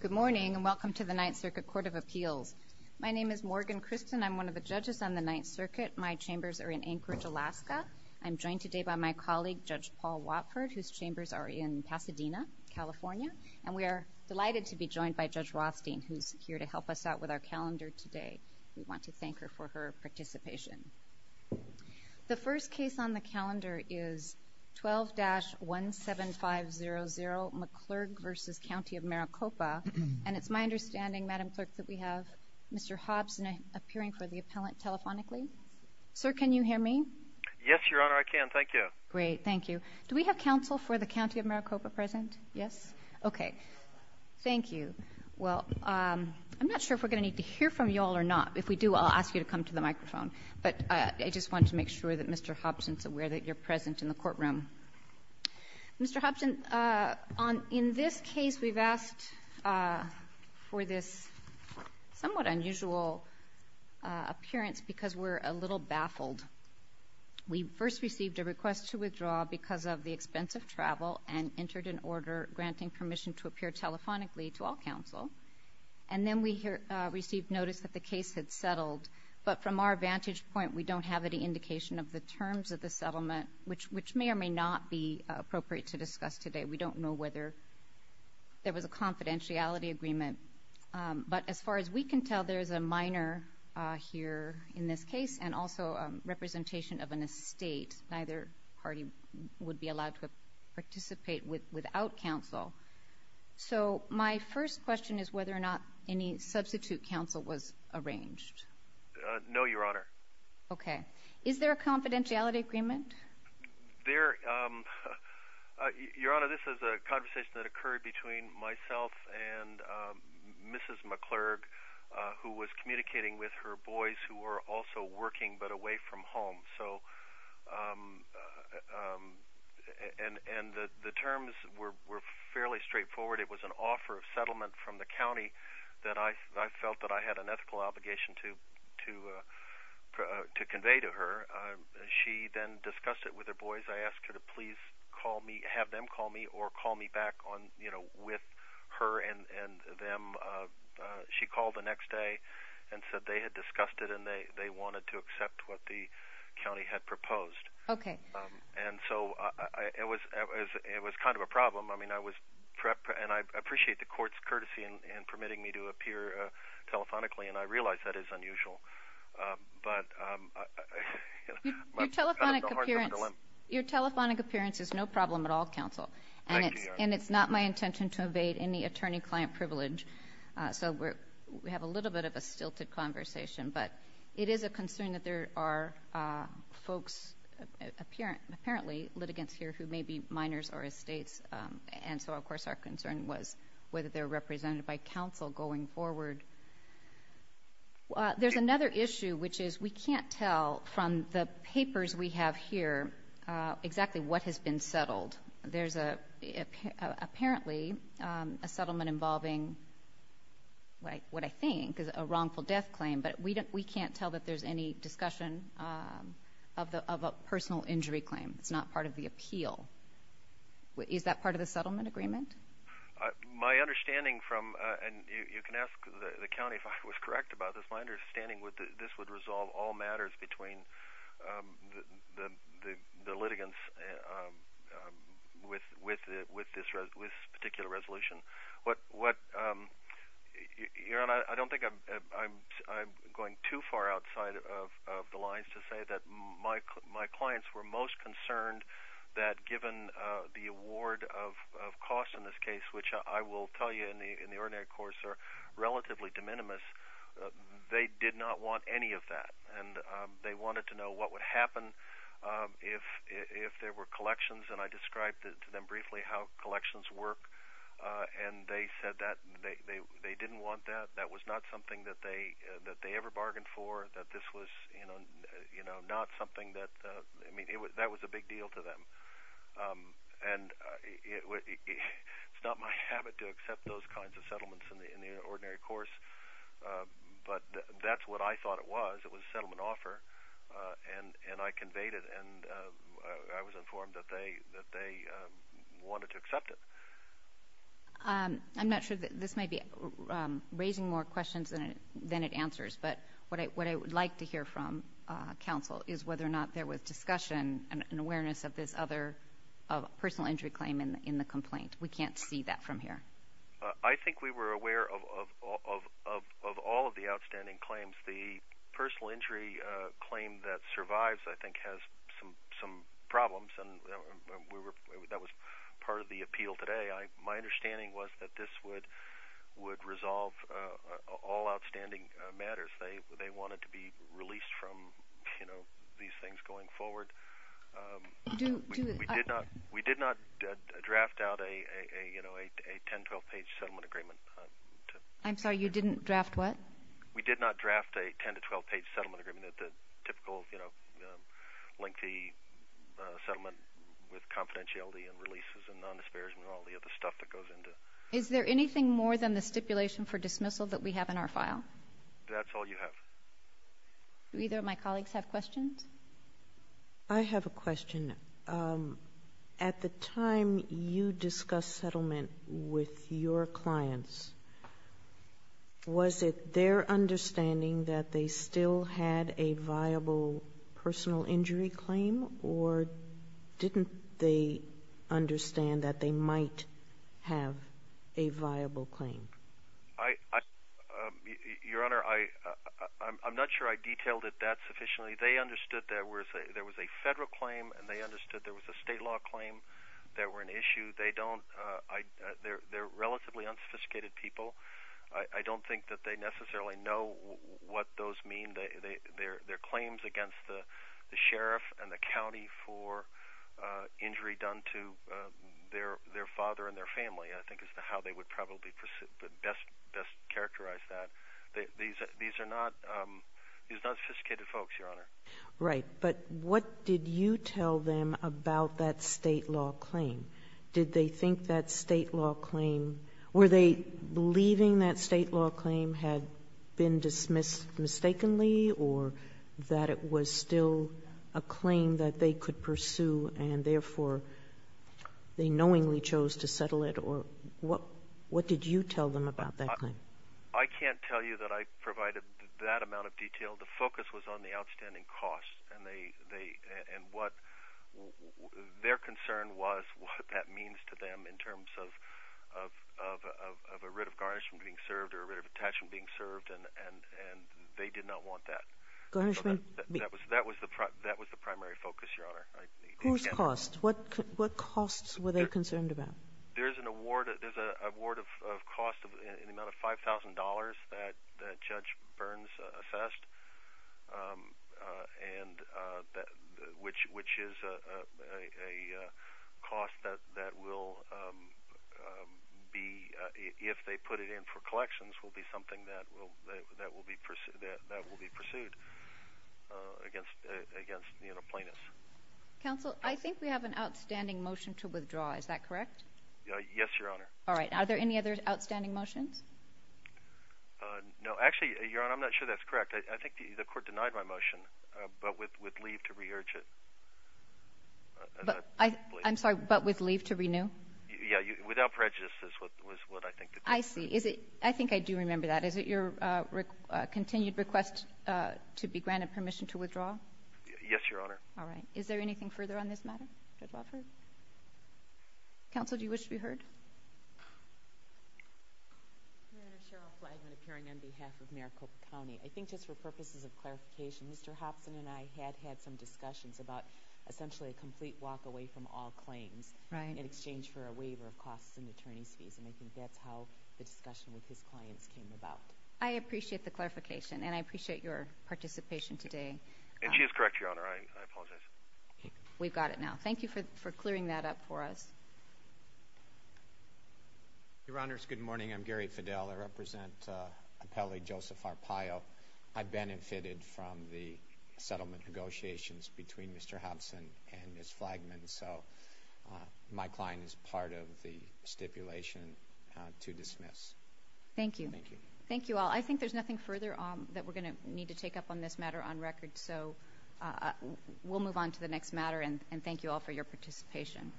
Good morning and welcome to the Ninth Circuit Court of Appeals. My name is Morgan Christen. I'm one of the judges on the Ninth Circuit. My chambers are in Anchorage, Alaska. I'm joined today by my colleague, Judge Paul Watford, whose chambers are in Pasadena, California, and we are delighted to be joined by Judge Rothstein, who's here to help us out with our calendar today. We want to thank her for her participation. The first case on the calendar is 12-17500 McClurg v. County of Maricopa, and it's my understanding, Madam Clerk, that we have Mr. Hobson appearing for the appellant telephonically. Sir, can you hear me? Yes, Your Honor, I can. Thank you. Great. Thank you. Do we have counsel for the County of Maricopa present? Yes? Okay. Thank you. Well, I'm not sure if we're gonna need to hear from you all or not. If we do, I'll ask you to come to the microphone, but I just want to make sure that Mr. Hobson's aware that you're present in the courtroom. Mr. Hobson, in this case, we've asked for this somewhat unusual appearance because we're a little baffled. We first received a request to withdraw because of the expense of travel and entered an order granting permission to appear telephonically to all counsel, and then we received notice that the case had settled, but from our vantage point, we don't have any indication of the terms of the settlement, which may or may not be appropriate to discuss today. We don't know whether there was a confidentiality agreement, but as far as we can tell, there is a minor here in this case and also a representation of an estate. Neither party would be allowed to participate without counsel. So my first question is whether or not any substitute counsel was arranged. No, Your Honor, this is a conversation that occurred between myself and Mrs. McClurg, who was communicating with her boys who were also working but away from home, and the terms were fairly straightforward. It was an offer of settlement from the county that I felt that I had an ethical obligation to convey to her. She then discussed it with her boys. I asked her to please call me, have them call me, or call me back with her and them. She called the next day and said they had discussed it and they wanted to accept what the county had proposed. Okay. And so it was kind of a problem. I mean, I was prepped, and I appreciate the court's courtesy in permitting me to appear telephonically, and I realize that is unusual. Your telephonic appearance is no problem at all, counsel, and it's not my intention to evade any attorney-client privilege. So we have a little bit of a stilted conversation, but it is a concern that there are folks, apparently litigants here who may be minors or estates, and so of course our concern was whether they're represented by counsel going forward. There's another issue, which is we can't tell from the papers we have here exactly what has been settled. There's apparently a settlement involving what I think is a wrongful death claim, but we can't tell that there's any discussion of a personal injury claim. It's not part of the appeal. Is that part of the settlement agreement? My understanding from, and you can ask the county if I was correct about this, my understanding would that this would resolve all matters between the litigants with this particular resolution. What, you know, I don't think I'm going too far outside of the lines to say that my case, which I will tell you in the ordinary course, are relatively de minimis. They did not want any of that, and they wanted to know what would happen if there were collections, and I described to them briefly how collections work, and they said that they didn't want that. That was not something that they ever bargained for, that this was, you know, it's not my habit to accept those kinds of settlements in the ordinary course, but that's what I thought it was. It was a settlement offer, and I conveyed it, and I was informed that they wanted to accept it. I'm not sure, this may be raising more questions than it answers, but what I would like to hear from counsel is whether or not there was discussion and awareness of this other personal injury claim in the complaint. We can't see that from here. I think we were aware of all of the outstanding claims. The personal injury claim that survives, I think, has some problems, and that was part of the appeal today. My understanding was that this would resolve all outstanding matters. They wanted to be released from, you know, these things going forward. We did not draft out a, you know, a 10-12 page settlement agreement. I'm sorry, you didn't draft what? We did not draft a 10 to 12 page settlement agreement at the typical, you know, lengthy settlement with confidentiality and releases and non-disparagement and all the other stuff that goes into it. Is there anything more than the stipulation for dismissal that we have in our file? That's all you have. Do either of my colleagues have questions? I have a question. At the time you discussed settlement with your clients, was it their understanding that they still had a viable personal injury claim, or didn't they understand that they might have a viable claim? Your Honor, I'm not sure I detailed it that sufficiently. They understood that there was a federal claim, and they understood there was a state law claim that were an issue. They're relatively unsophisticated people. I don't think that they necessarily know what those mean. Their claims against the sheriff and the county for injury done to their father and their family, I think, is how they would probably proceed. I don't know how to best characterize that. These are not sophisticated folks, Your Honor. Right. But what did you tell them about that state law claim? Did they think that state law claim or were they believing that state law claim had been dismissed mistakenly or that it was still a claim that they could pursue and therefore they knowingly chose to settle it? What did you tell them about that claim? I can't tell you that I provided that amount of detail. The focus was on the outstanding costs. Their concern was what that means to them in terms of a writ of garnishment being served or a writ of attachment being served, and they did not want that. Garnishment? That was the primary focus, Your Honor. Whose costs? What costs were they concerned about? There's an award of cost, an amount of $5,000 that Judge Burns assessed, which is a cost that will be, if they put it in for collections, will be something that will be pursued against the plaintiffs. Counsel, I think we have an outstanding motion to withdraw. Is that correct? Yes, Your Honor. All right. Are there any other outstanding motions? No. Actually, Your Honor, I'm not sure that's correct. I think the Court denied my motion, but with leave to re-urge it. I'm sorry. But with leave to renew? Yes. Without prejudice is what I think it is. I see. Is it — I think I do remember that. Is it your continued request to be granted permission to withdraw? Yes, Your Honor. All right. Is there anything further on this matter, Judge Wofford? Counsel, do you wish to be heard? Your Honor, Cheryl Flagman, appearing on behalf of Maricopa County. I think just for purposes of clarification, Mr. Hobson and I had had some discussions about essentially a complete walk away from all claims in exchange for a waiver of costs and attorney's fees, and I think that's how the discussion with his clients came about. I appreciate the clarification, and I appreciate your participation today. And she is correct, Your Honor. I apologize. We've got it now. Thank you for clearing that up for us. Your Honors, good morning. I'm Gary Fidel. I represent appellee Joseph Arpaio. I benefited from the settlement negotiations between Mr. Hobson and Ms. Flagman, so my client is part of the stipulation to dismiss. Thank you. Thank you all. I think there's nothing further that we're going to need to take up on this matter on record. So we'll move on to the next matter, and thank you all for your participation.